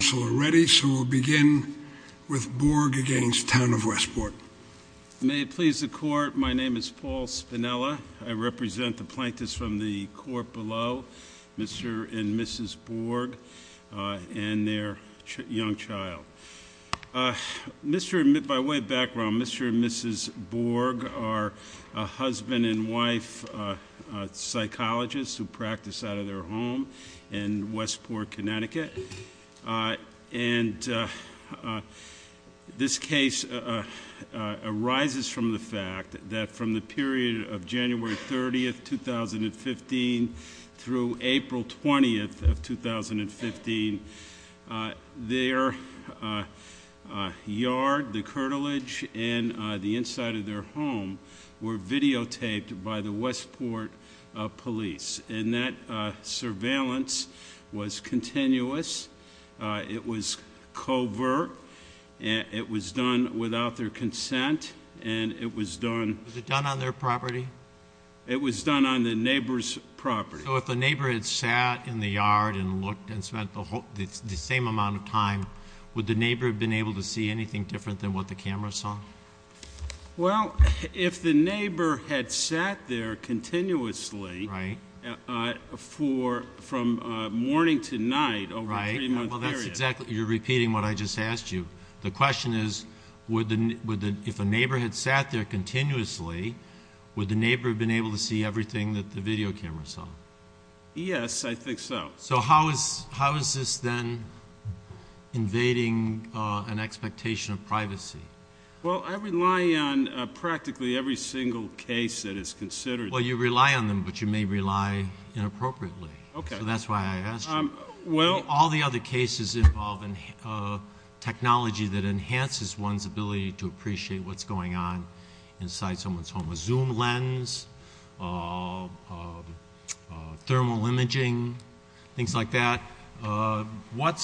Council are ready, so we'll begin with Borg v. Westport May it please the court, my name is Paul Spinella, I represent the plaintiffs from the court below Mr. and Mrs. Borg and their young child By way of background, Mr. and Mrs. Borg are husband and wife psychologists who practice out of their home in Westport, Connecticut, and this case arises from the fact that from the period of January 30, 2015 through April 20, 2015, their yard, the cartilage, and the inside of their home were videotaped by the Westport police and that surveillance was continuous, it was covert, it was done without their consent, and it was done Was it done on their property? It was done on the neighbor's property So if the neighbor had sat in the yard and looked and spent the same amount of time, would the neighbor have been able to see anything different than what the camera saw? Well, if the neighbor had sat there continuously from morning to night over a three-month period You're repeating what I just asked you The question is, if a neighbor had sat there continuously, would the neighbor have been able to see everything that the video camera saw? Yes, I think so So how is this then invading an expectation of privacy? Well, I rely on practically every single case that is considered Well, you rely on them, but you may rely inappropriately So that's why I asked you All the other cases involve technology that enhances one's ability to appreciate what's going on inside someone's home A zoom lens, thermal imaging, things like that What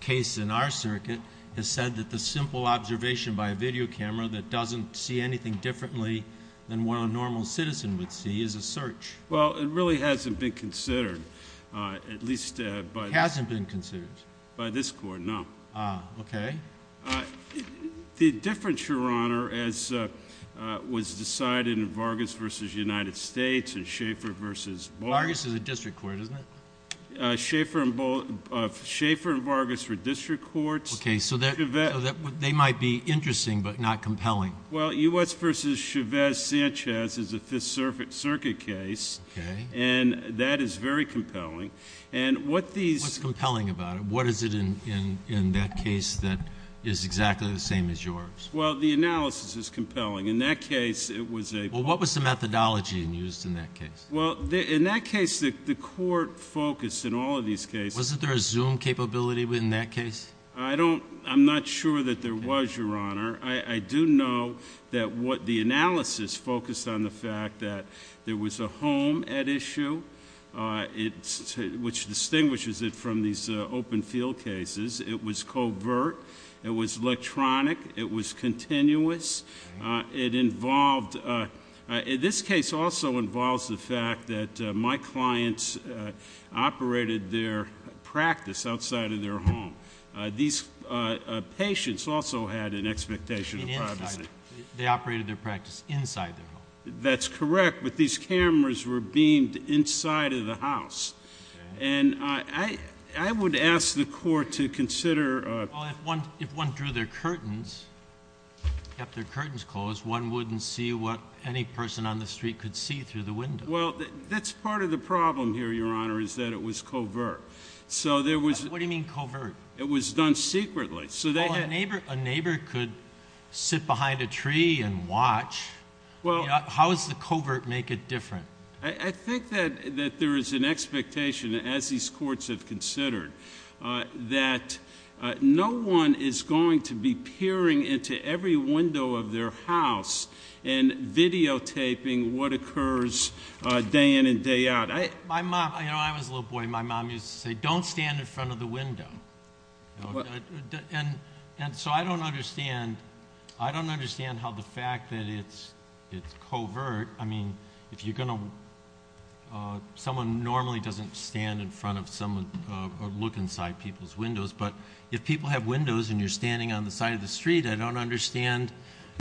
case in our circuit has said that the simple observation by a video camera that doesn't see anything differently than what a normal citizen would see is a search? Well, it really hasn't been considered It hasn't been considered? By this court, no Ah, okay The difference, Your Honor, as was decided in Vargas v. United States and Schaeffer v. Baldwin Vargas is a district court, isn't it? Schaeffer and Vargas were district courts Okay, so they might be interesting, but not compelling Well, U.S. v. Chavez-Sanchez is a Fifth Circuit case Okay And that is very compelling What's compelling about it? What is it in that case that is exactly the same as yours? Well, the analysis is compelling In that case, it was a Well, what was the methodology used in that case? Well, in that case, the court focused in all of these cases Wasn't there a zoom capability in that case? I'm not sure that there was, Your Honor I do know that the analysis focused on the fact that there was a home at issue, which distinguishes it from these open field cases It was covert, it was electronic, it was continuous This case also involves the fact that my clients operated their practice outside of their home These patients also had an expectation of privacy They operated their practice inside their home That's correct, but these cameras were beamed inside of the house And I would ask the court to consider Well, if one drew their curtains, kept their curtains closed, one wouldn't see what any person on the street could see through the window Well, that's part of the problem here, Your Honor, is that it was covert What do you mean covert? It was done secretly A neighbor could sit behind a tree and watch How does the covert make it different? I think that there is an expectation, as these courts have considered, that no one is going to be peering into every window of their house And videotaping what occurs day in and day out My mom, you know, when I was a little boy, my mom used to say, don't stand in front of the window And so I don't understand how the fact that it's covert I mean, someone normally doesn't stand in front of or look inside people's windows But if people have windows and you're standing on the side of the street, I don't understand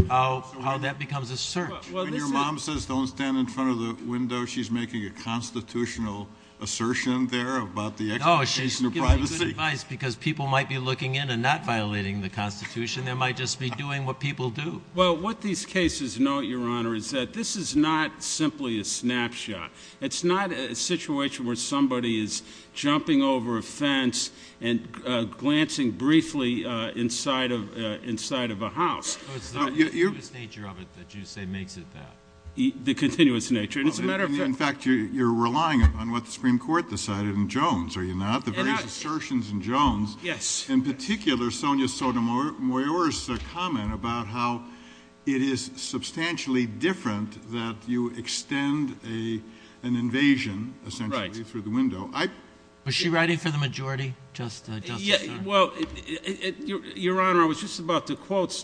how that becomes a search When your mom says don't stand in front of the window, she's making a constitutional assertion there about the expectation of privacy No, she's giving good advice, because people might be looking in and not violating the Constitution They might just be doing what people do Well, what these cases note, Your Honor, is that this is not simply a snapshot It's not a situation where somebody is jumping over a fence and glancing briefly inside of a house It's the continuous nature of it that you say makes it that The continuous nature, and it's a matter of fact In fact, you're relying on what the Supreme Court decided in Jones, are you not? The various assertions in Jones In particular, Sonia Sotomayor's comment about how it is substantially different that you extend an invasion, essentially, through the window Was she writing for the majority, Justice Sotomayor? Well, Your Honor, I was just about to quote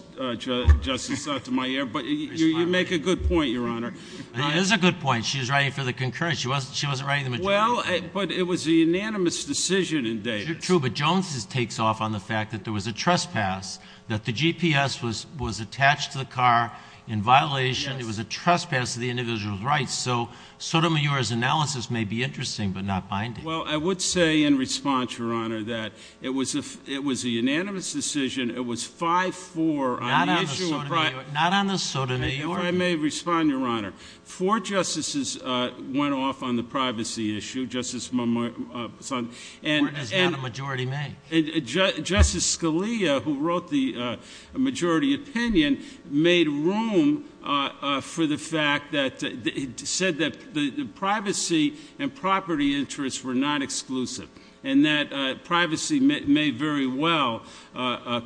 Justice Sotomayor, but you make a good point, Your Honor It is a good point. She was writing for the concurrent. She wasn't writing for the majority Well, but it was a unanimous decision in Davis True, but Jones takes off on the fact that there was a trespass That the GPS was attached to the car in violation It was a trespass of the individual's rights So, Sotomayor's analysis may be interesting, but not binding Well, I would say in response, Your Honor, that it was a unanimous decision It was 5-4 on the issue of privacy Not on the Sotomayor If I may respond, Your Honor Four justices went off on the privacy issue Where does not a majority make? Justice Scalia, who wrote the majority opinion, made room for the fact that He said that the privacy and property interests were not exclusive And that privacy may very well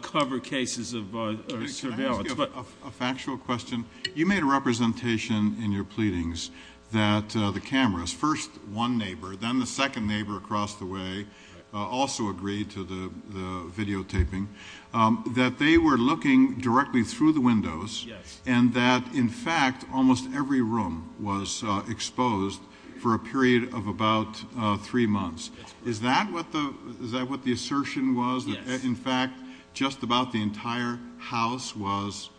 cover cases of surveillance Can I ask you a factual question? You made a representation in your pleadings that the cameras First one neighbor, then the second neighbor across the way Also agreed to the videotaping That they were looking directly through the windows And that, in fact, almost every room was exposed For a period of about three months Is that what the assertion was? In fact, just about the entire house was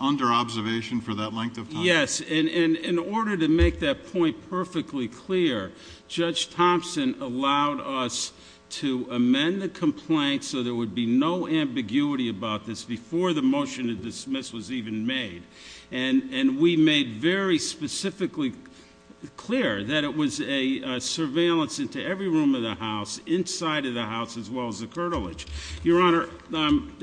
under observation for that length of time? Yes, and in order to make that point perfectly clear Judge Thompson allowed us to amend the complaint So there would be no ambiguity about this Before the motion to dismiss was even made And we made very specifically clear That it was a surveillance into every room of the house Inside of the house, as well as the curtilage Your Honor,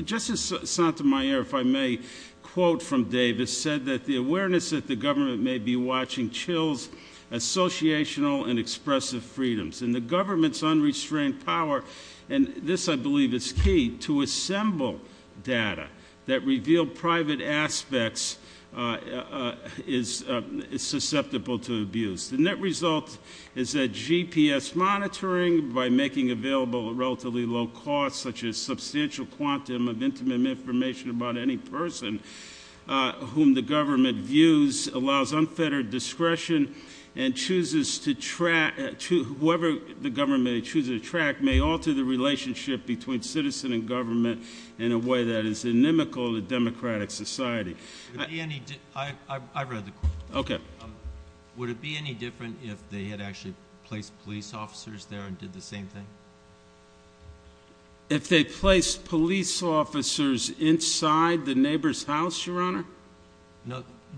Justice Sotomayor, if I may quote from Davis Said that the awareness that the government may be watching Chills associational and expressive freedoms And the government's unrestrained power And this, I believe, is key To assemble data that reveal private aspects Is susceptible to abuse The net result is that GPS monitoring By making available at relatively low cost Such as substantial quantum of intimate information about any person Whom the government views allows unfettered discretion And chooses to track Whoever the government chooses to track May alter the relationship between citizen and government In a way that is inimical to democratic society I read the quote Would it be any different if they had actually placed police officers there And did the same thing? If they placed police officers inside the neighbor's house, Your Honor?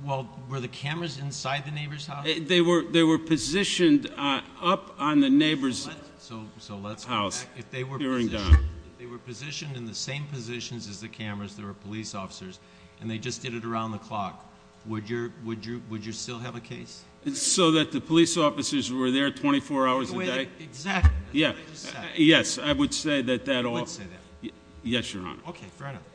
Well, were the cameras inside the neighbor's house? They were positioned up on the neighbor's house So let's go back If they were positioned in the same positions as the cameras There were police officers And they just did it around the clock Would you still have a case? So that the police officers were there 24 hours a day? Exactly Yes, I would say that Yes, Your Honor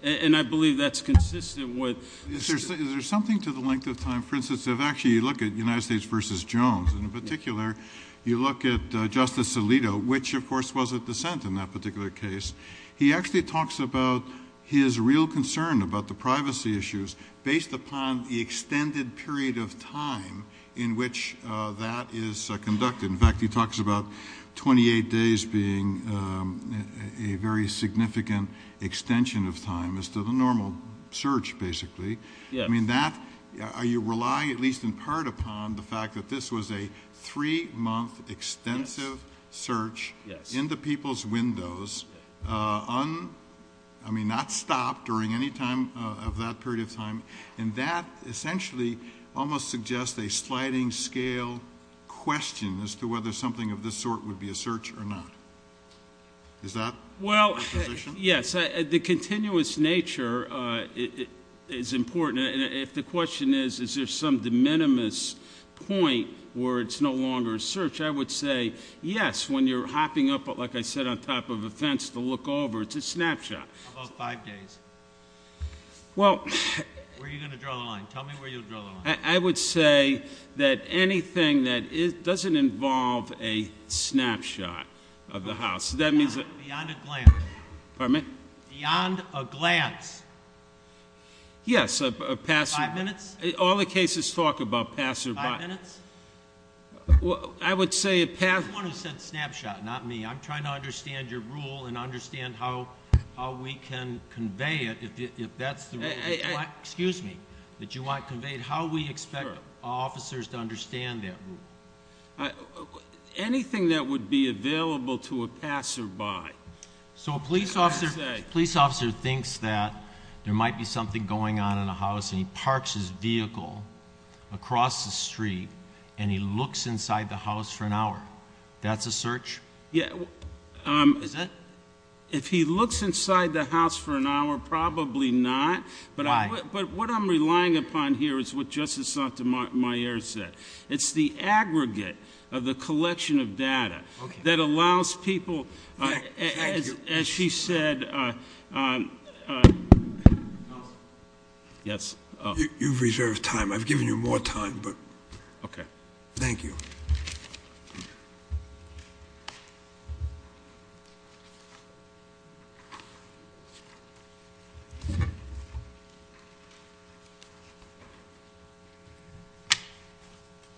And I believe that's consistent with Is there something to the length of time For instance, if actually you look at United States versus Jones In particular, you look at Justice Alito Which, of course, was a dissent in that particular case He actually talks about his real concern about the privacy issues Based upon the extended period of time In which that is conducted In fact, he talks about 28 days being A very significant extension of time As to the normal search, basically Are you relying at least in part upon The fact that this was a 3-month extensive search In the people's windows Not stopped during any time of that period of time And that essentially almost suggests A sliding scale question As to whether something of this sort would be a search or not Is that your position? Well, yes, the continuous nature is important And if the question is Is there some de minimis point Where it's no longer a search I would say yes When you're hopping up, like I said, on top of a fence To look over, it's a snapshot How about 5 days? Where are you going to draw the line? Tell me where you'll draw the line I would say that anything that doesn't involve A snapshot of the house Beyond a glance Pardon me? Beyond a glance Yes, a passerby 5 minutes? All the cases talk about passerby 5 minutes? I would say a passerby The one who said snapshot, not me I'm trying to understand your rule And understand how we can convey it If that's the rule Excuse me That you want conveyed How we expect officers to understand that rule Anything that would be available to a passerby So a police officer thinks that There might be something going on in a house And he parks his vehicle Across the street And he looks inside the house for an hour That's a search? Is that? If he looks inside the house for an hour Probably not Why? But what I'm relying upon here Is what Justice Sotomayor said It's the aggregate of the collection of data That allows people Thank you As she said Counsel Yes You've reserved time I've given you more time Okay Thank you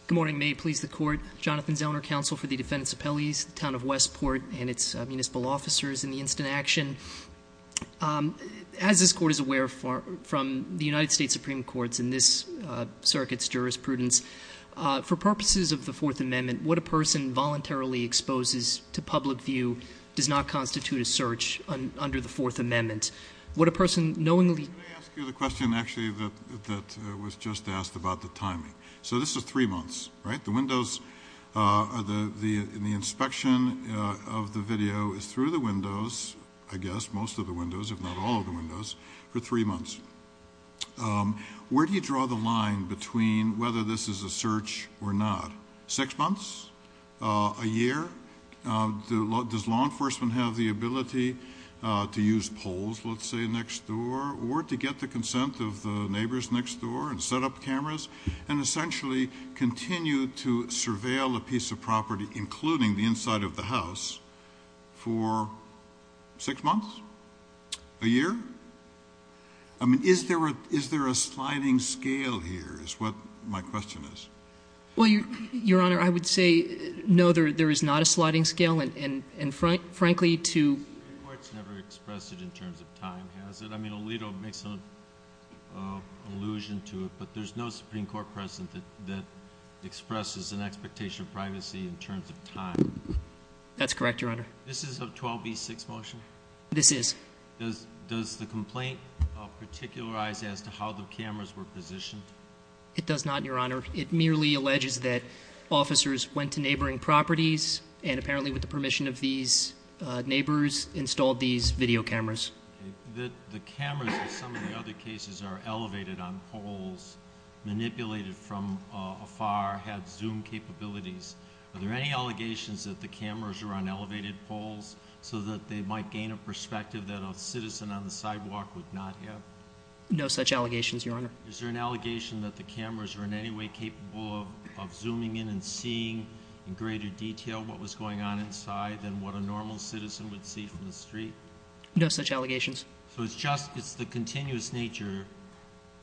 Good morning May it please the court Jonathan Zellner, counsel for the defendants' appellees Town of Westport And its municipal officers in the instant action As this court is aware From the United States Supreme Court And this circuit's jurisprudence For purposes of the Fourth Amendment What a person voluntarily exposes to public view Does not constitute a search Under the Fourth Amendment What a person knowingly Let me ask you the question actually That was just asked about the timing So this is three months, right? The windows The inspection of the video Is through the windows I guess most of the windows If not all of the windows For three months Where do you draw the line between Whether this is a search or not? Six months? A year? Does law enforcement have the ability To use poles, let's say, next door Or to get the consent of the neighbors next door And set up cameras And essentially continue to surveil a piece of property Including the inside of the house For six months? A year? I mean, is there a sliding scale here Is what my question is Well, your honor, I would say No, there is not a sliding scale And frankly to The Supreme Court's never expressed it in terms of time, has it? I mean, Alito makes an allusion to it But there's no Supreme Court precedent That expresses an expectation of privacy In terms of time That's correct, your honor This is a 12B6 motion? This is Does the complaint particularize As to how the cameras were positioned? It does not, your honor It merely alleges that Neighboring properties And apparently with the permission of these neighbors Installed these video cameras The cameras in some of the other cases Are elevated on poles Manipulated from afar Had zoom capabilities Are there any allegations that the cameras Were on elevated poles So that they might gain a perspective That a citizen on the sidewalk would not have? No such allegations, your honor Is there an allegation that the cameras Were in any way capable of zooming in And seeing in greater detail What was going on inside Than what a normal citizen would see from the street? No such allegations So it's just, it's the continuous nature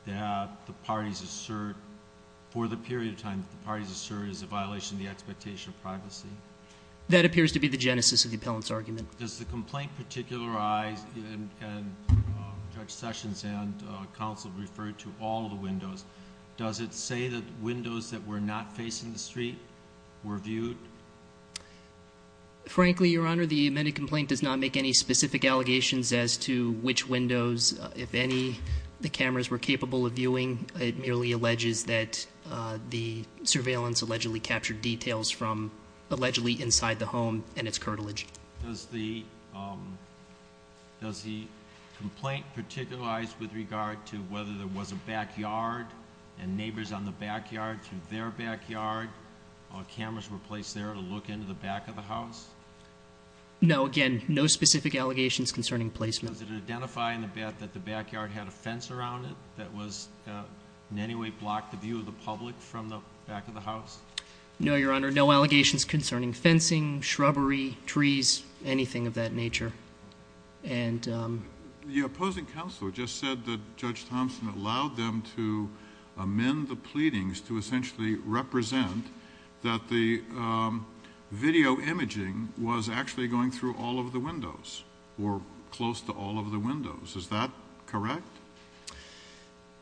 That the parties assert For the period of time that the parties assert Is a violation of the expectation of privacy? That appears to be the genesis of the appellant's argument Does the complaint particularize And Judge Sessions and counsel Refer to all of the windows Does it say that windows That were not facing the street Were viewed? Frankly, your honor The amended complaint does not make any specific allegations As to which windows If any, the cameras were capable of viewing It merely alleges that The surveillance allegedly Captured details from Allegedly inside the home and its curtilage Does the Does the Complaint particularize with regard To whether there was a backyard And neighbors on the backyard Through their backyard Or cameras were placed there to look into the back of the house? No, again No specific allegations concerning placement Does it identify that the backyard Had a fence around it That was in any way blocked the view of the public From the back of the house? No, your honor, no allegations Concerning fencing, shrubbery, trees Anything of that nature And The opposing counsel Just said that Judge Thompson Allowed them to amend the pleadings To essentially represent That the Video imaging was actually Going through all of the windows Or close to all of the windows Is that correct?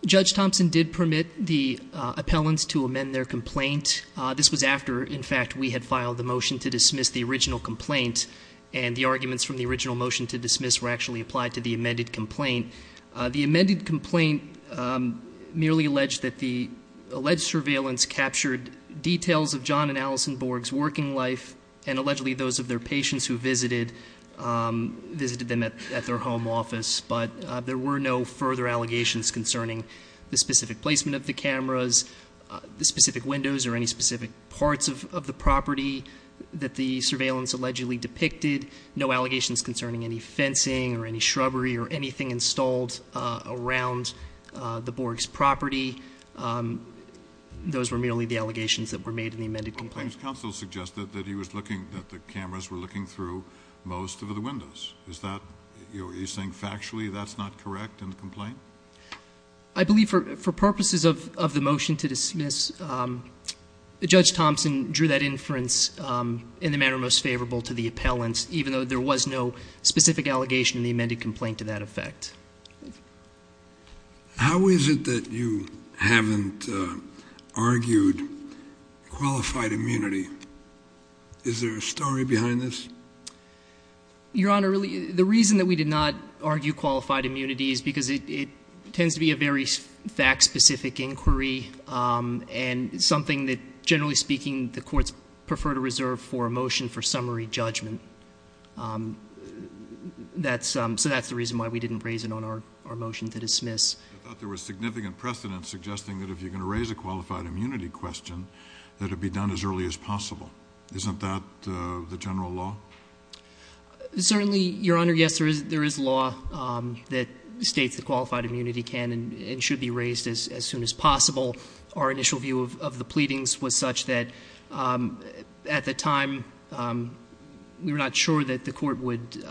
Judge Thompson did permit The appellants to amend their Complaint, this was after In fact we had filed the motion to dismiss The original complaint And the arguments from the original motion to dismiss Were actually applied to the amended complaint The amended complaint Merely alleged that the Alleged surveillance captured Details of John and Allison Borg's Working life and allegedly those Of their patients who visited Visited them at their home office But there were no further Allegations concerning the specific Placement of the cameras The specific windows or any specific Parts of the property That the surveillance allegedly Depicted, no allegations concerning Any fencing or any shrubbery or Anything installed around The Borg's property Those were Merely the allegations that were made in the amended complaint Counsel suggested that he was looking That the cameras were looking through Most of the windows, is that You're saying factually that's not correct In the complaint? I believe for purposes of the motion To dismiss Judge Thompson Drew that inference in the manner Most favorable to the appellant Even though there was no specific allegation In the amended complaint to that effect How is it That you haven't Argued Qualified immunity Is there a story behind this? Your honor The reason that we did not argue Qualified immunity is because it Tends to be a very fact specific Inquiry and Something that generally speaking the courts Prefer to reserve for a motion for Summary judgment So that's The reason why we didn't raise it on our Motion to dismiss I thought there was significant precedence suggesting that if you're going to raise a Qualified immunity question That it be done as early as possible Isn't that the general law? Certainly, your honor Yes, there is law That states that qualified immunity can And should be raised as soon as possible Our initial view of the Pleadings was such that At the time We were not sure that the court Would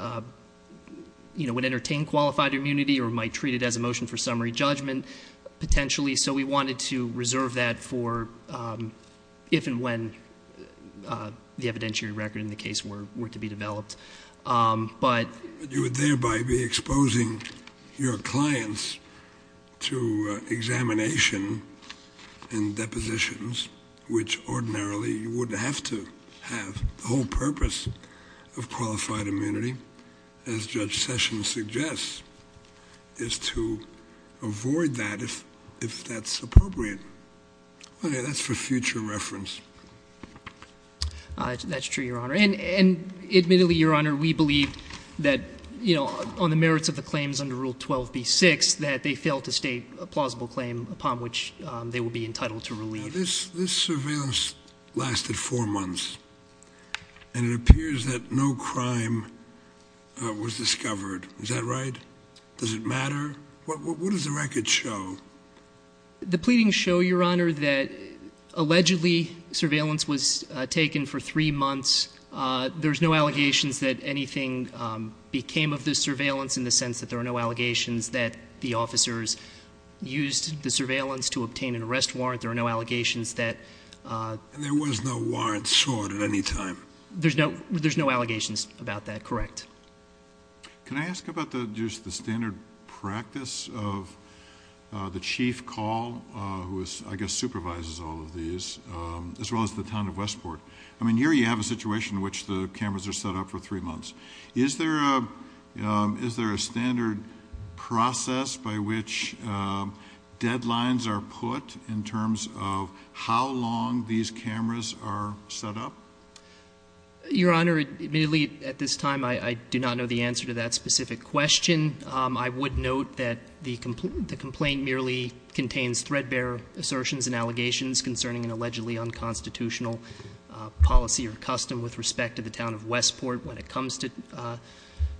Entertain qualified immunity or might Treat it as a motion for summary judgment Potentially so we wanted to reserve that For if And when The evidentiary record in the case were to be Developed You would thereby be exposing Your clients To examination And depositions Which ordinarily you wouldn't Have to have The whole purpose of qualified immunity As judge Sessions suggests Is to avoid that If that's appropriate That's for future reference That's true, your honor And admittedly, your honor, we believe That, you know, on the merits of the Claims under rule 12b-6 That they fail to state a plausible claim Upon which they would be entitled to This surveillance Lasted four months And it appears that no crime Was discovered Is that right? Does it matter? What does the record show? The pleadings show, your honor, that Allegedly surveillance was Taken for three months There's no allegations that Anything became of this surveillance In the sense that there are no allegations That the officers Used the surveillance to obtain an arrest warrant There are no allegations that And there was no warrant Sought at any time There's no allegations about that, correct Can I ask about The standard practice of The chief call Who I guess supervises All of these As well as the town of Westport I mean, here you have a situation in which the Cameras are set up for three months Is there a Standard process by Which deadlines Are put in terms of How long these cameras Are set up? Your honor, admittedly At this time, I do not know the answer to that Specific question I would note that the complaint Merely contains threadbare Assertions and allegations concerning Allegedly unconstitutional Policy or custom with respect to the town Of Westport when it comes to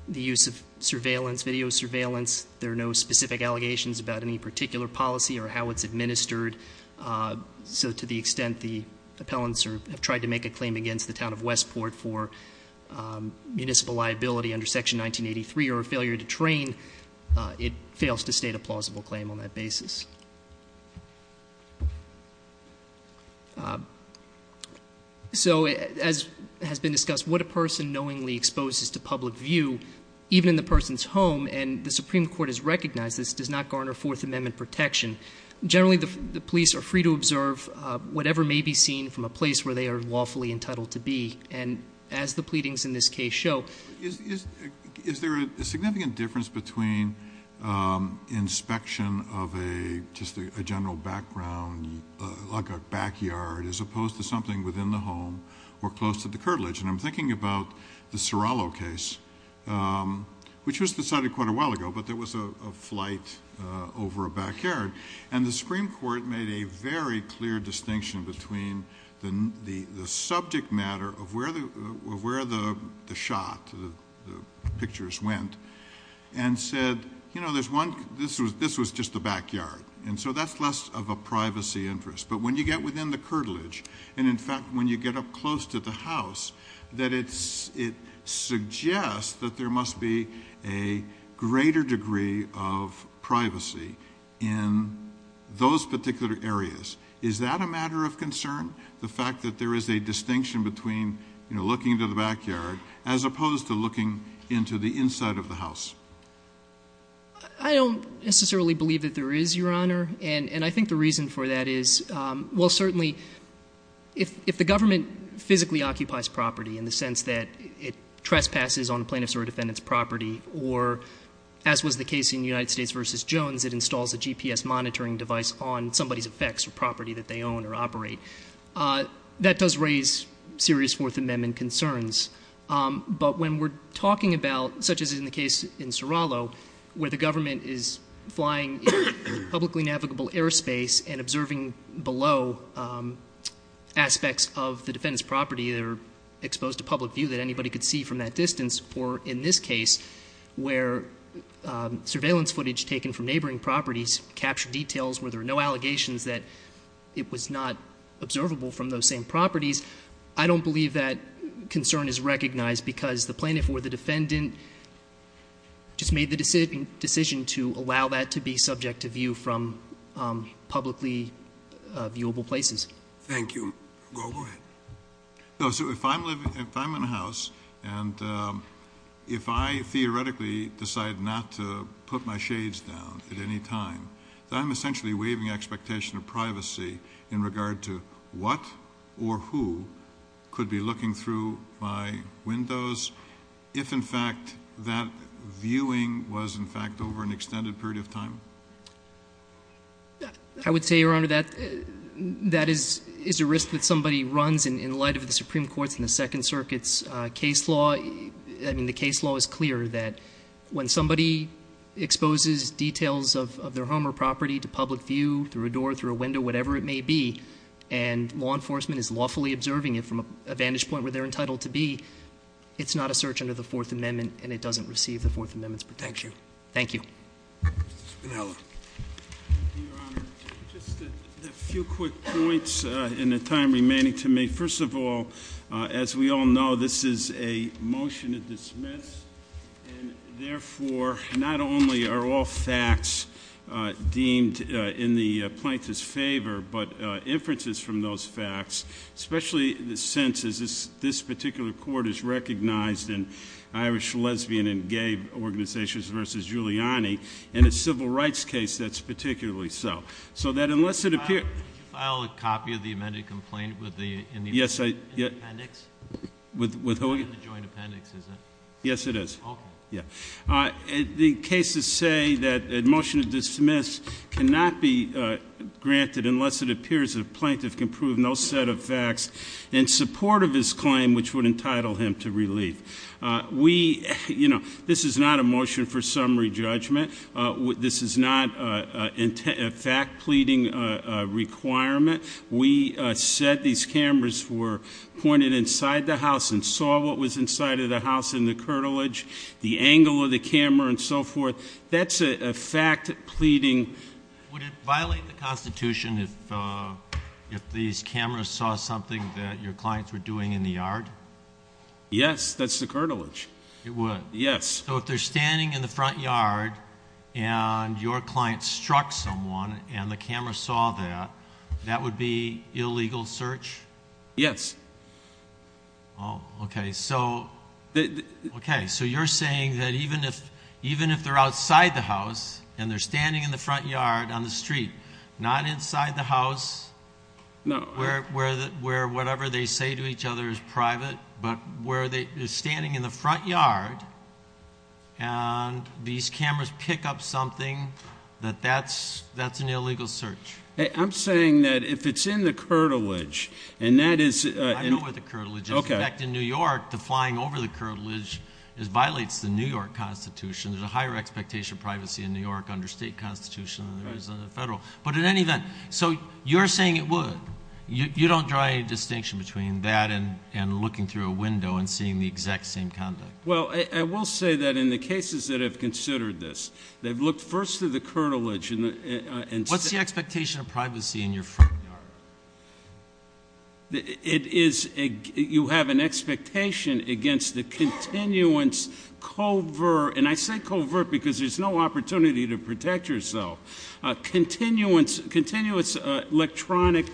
The use of surveillance Video surveillance, there are no specific Allegations about any particular policy Or how it's administered So to the extent the Appellants have tried to make a claim against the town Of Westport for Municipal liability under section 1983 Or a failure to train It fails to state a plausible claim On that basis So as has been discussed What a person knowingly exposes to public View, even in the person's home And the Supreme Court has recognized this Does not garner Fourth Amendment protection Generally the police are free to observe Whatever may be seen from a Place where they are lawfully entitled to be And as the pleadings in this case Show Is there a significant difference between Inspection of A general background Like a backyard As opposed to something within the home Or close to the curtilage And I'm thinking about the Serralo case Which was decided quite a while ago But there was a flight Over a backyard And the Supreme Court made a very clear Distinction between The subject matter Of where the shot The pictures went And said This was just the backyard And so that's less of a privacy interest But when you get within the curtilage And in fact when you get up close To the house That it suggests That there must be a Greater degree of privacy In those Particular areas Is that a matter of concern? The fact that there is a distinction between Looking into the backyard As opposed to looking Into the inside of the house I don't necessarily believe That there is, your honor And I think the reason for that is Well certainly If the government physically occupies property In the sense that it trespasses On plaintiff's or defendant's property Or as was the case in United States v. Jones It installs a GPS monitoring device on Somebody's effects or property that they own or operate That does raise Serious Fourth Amendment concerns But when we're talking about Such as in the case in Where the government is Flying in publicly navigable Airspace and observing below Aspects of The defendant's property That are exposed to public view that anybody could see From that distance or in this case Where surveillance Footage taken from neighboring properties Capture details where there are no allegations That it was not Observable from those same properties I don't believe that concern is recognized Because the plaintiff or the defendant Just made the Decision to allow that to be Subject to view from Publicly viewable places Thank you Go ahead If I'm in a house And if I theoretically Decide not to put my Shades down at any time I'm essentially waiving expectation of What or who Could be looking through my Windows if in fact That viewing was In fact over an extended period of time I would say your honor that That is a risk that somebody Runs in light of the supreme court's and the second Circuit's case law I mean the case law is clear that When somebody Exposes details of their home or property To public view through a door through a window Whatever it may be and Law enforcement is lawfully observing it from A vantage point where they're entitled to be It's not a search under the fourth amendment And it doesn't receive the fourth amendment's protection Thank you Just a few quick points In the time remaining to me First of all as we all Know this is a motion To dismiss and Therefore not only are all Facts deemed In the plaintiff's favor But inferences from those facts Especially the senses This particular court is recognized In irish lesbian and Gay organizations versus Giuliani in a civil rights case That's particularly so So that unless it appears Did you file a copy of the amended complaint with the In the appendix With who again Yes it is The cases say that Motion to dismiss cannot be Granted unless it appears The plaintiff can prove no set of facts In support of his claim Which would entitle him to relief We you know This is not a motion for summary judgment This is not A fact pleading Requirement we Said these cameras were Pointed inside the house and saw What was inside of the house in the curtilage The angle of the camera And so forth that's a fact Pleading Violate the constitution If these cameras saw Something that your clients were doing in the yard Yes that's the Curtilage it would yes So if they're standing in the front yard And your client struck Someone and the camera saw That that would be illegal Search yes Oh okay So okay So you're saying that even if Even if they're outside the house And they're standing in the front yard on the street Not inside the house No Where whatever they say to each other is private But where they Standing in the front yard And these cameras Pick up something that that's That's an illegal search I'm saying that if it's in the Curtilage and that is I know where the curtilage is In New York to flying over the curtilage Is violates the New York Constitution there's a higher expectation of Privacy in New York under state constitution Than there is in the federal but in any event So you're saying it would You don't draw any distinction between That and looking through a window And seeing the exact same conduct Well I will say that in the cases that have Considered this they've looked first Through the curtilage What's the expectation of privacy in your front yard It is You have an expectation Against the Continuance covert And I say covert because there's no opportunity To protect yourself Continuance Electronic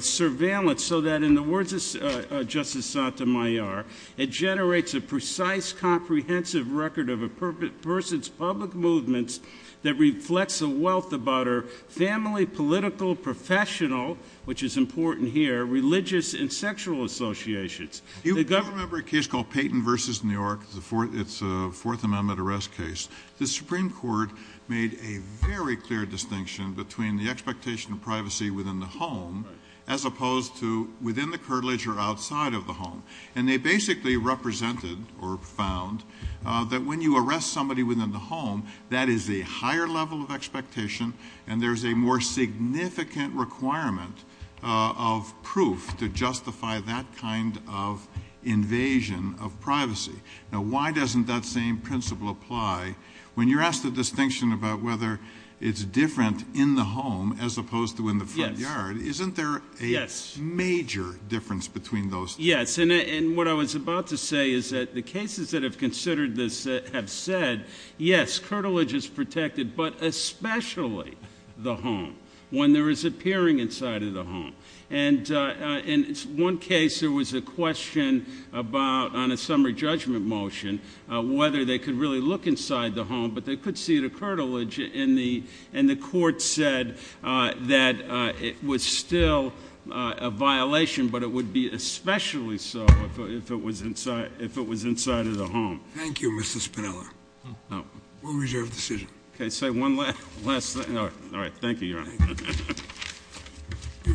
Surveillance so that in the words of Justice Sotomayor It generates a precise comprehensive Record of a person's Public movements that reflects The wealth about her family Political professional Which is important here religious And sexual associations Remember a case called Payton versus New York The fourth it's a fourth amendment Arrest case the Supreme Court Made a very clear distinction Between the expectation of privacy Within the home as opposed To within the curtilage or outside Of the home and they basically Represented or found That when you arrest somebody within the home That is a higher level of Significant requirement Of proof to justify That kind of Invasion of privacy Now why doesn't that same principle Apply when you're asked the distinction About whether it's different In the home as opposed to in the front yard Isn't there a Major difference between those Yes and what I was about to say Is that the cases that have considered this Have said yes Curtilage is protected but especially The home when there is Appearing inside of the home And in one case There was a question about On a summary judgment motion Whether they could really look inside The home but they could see the curtilage In the and the court said That it was Still a violation But it would be especially so If it was inside Of the home Thank you Mr. Spinella We'll reserve the decision Say one last thing Thank you Your Honor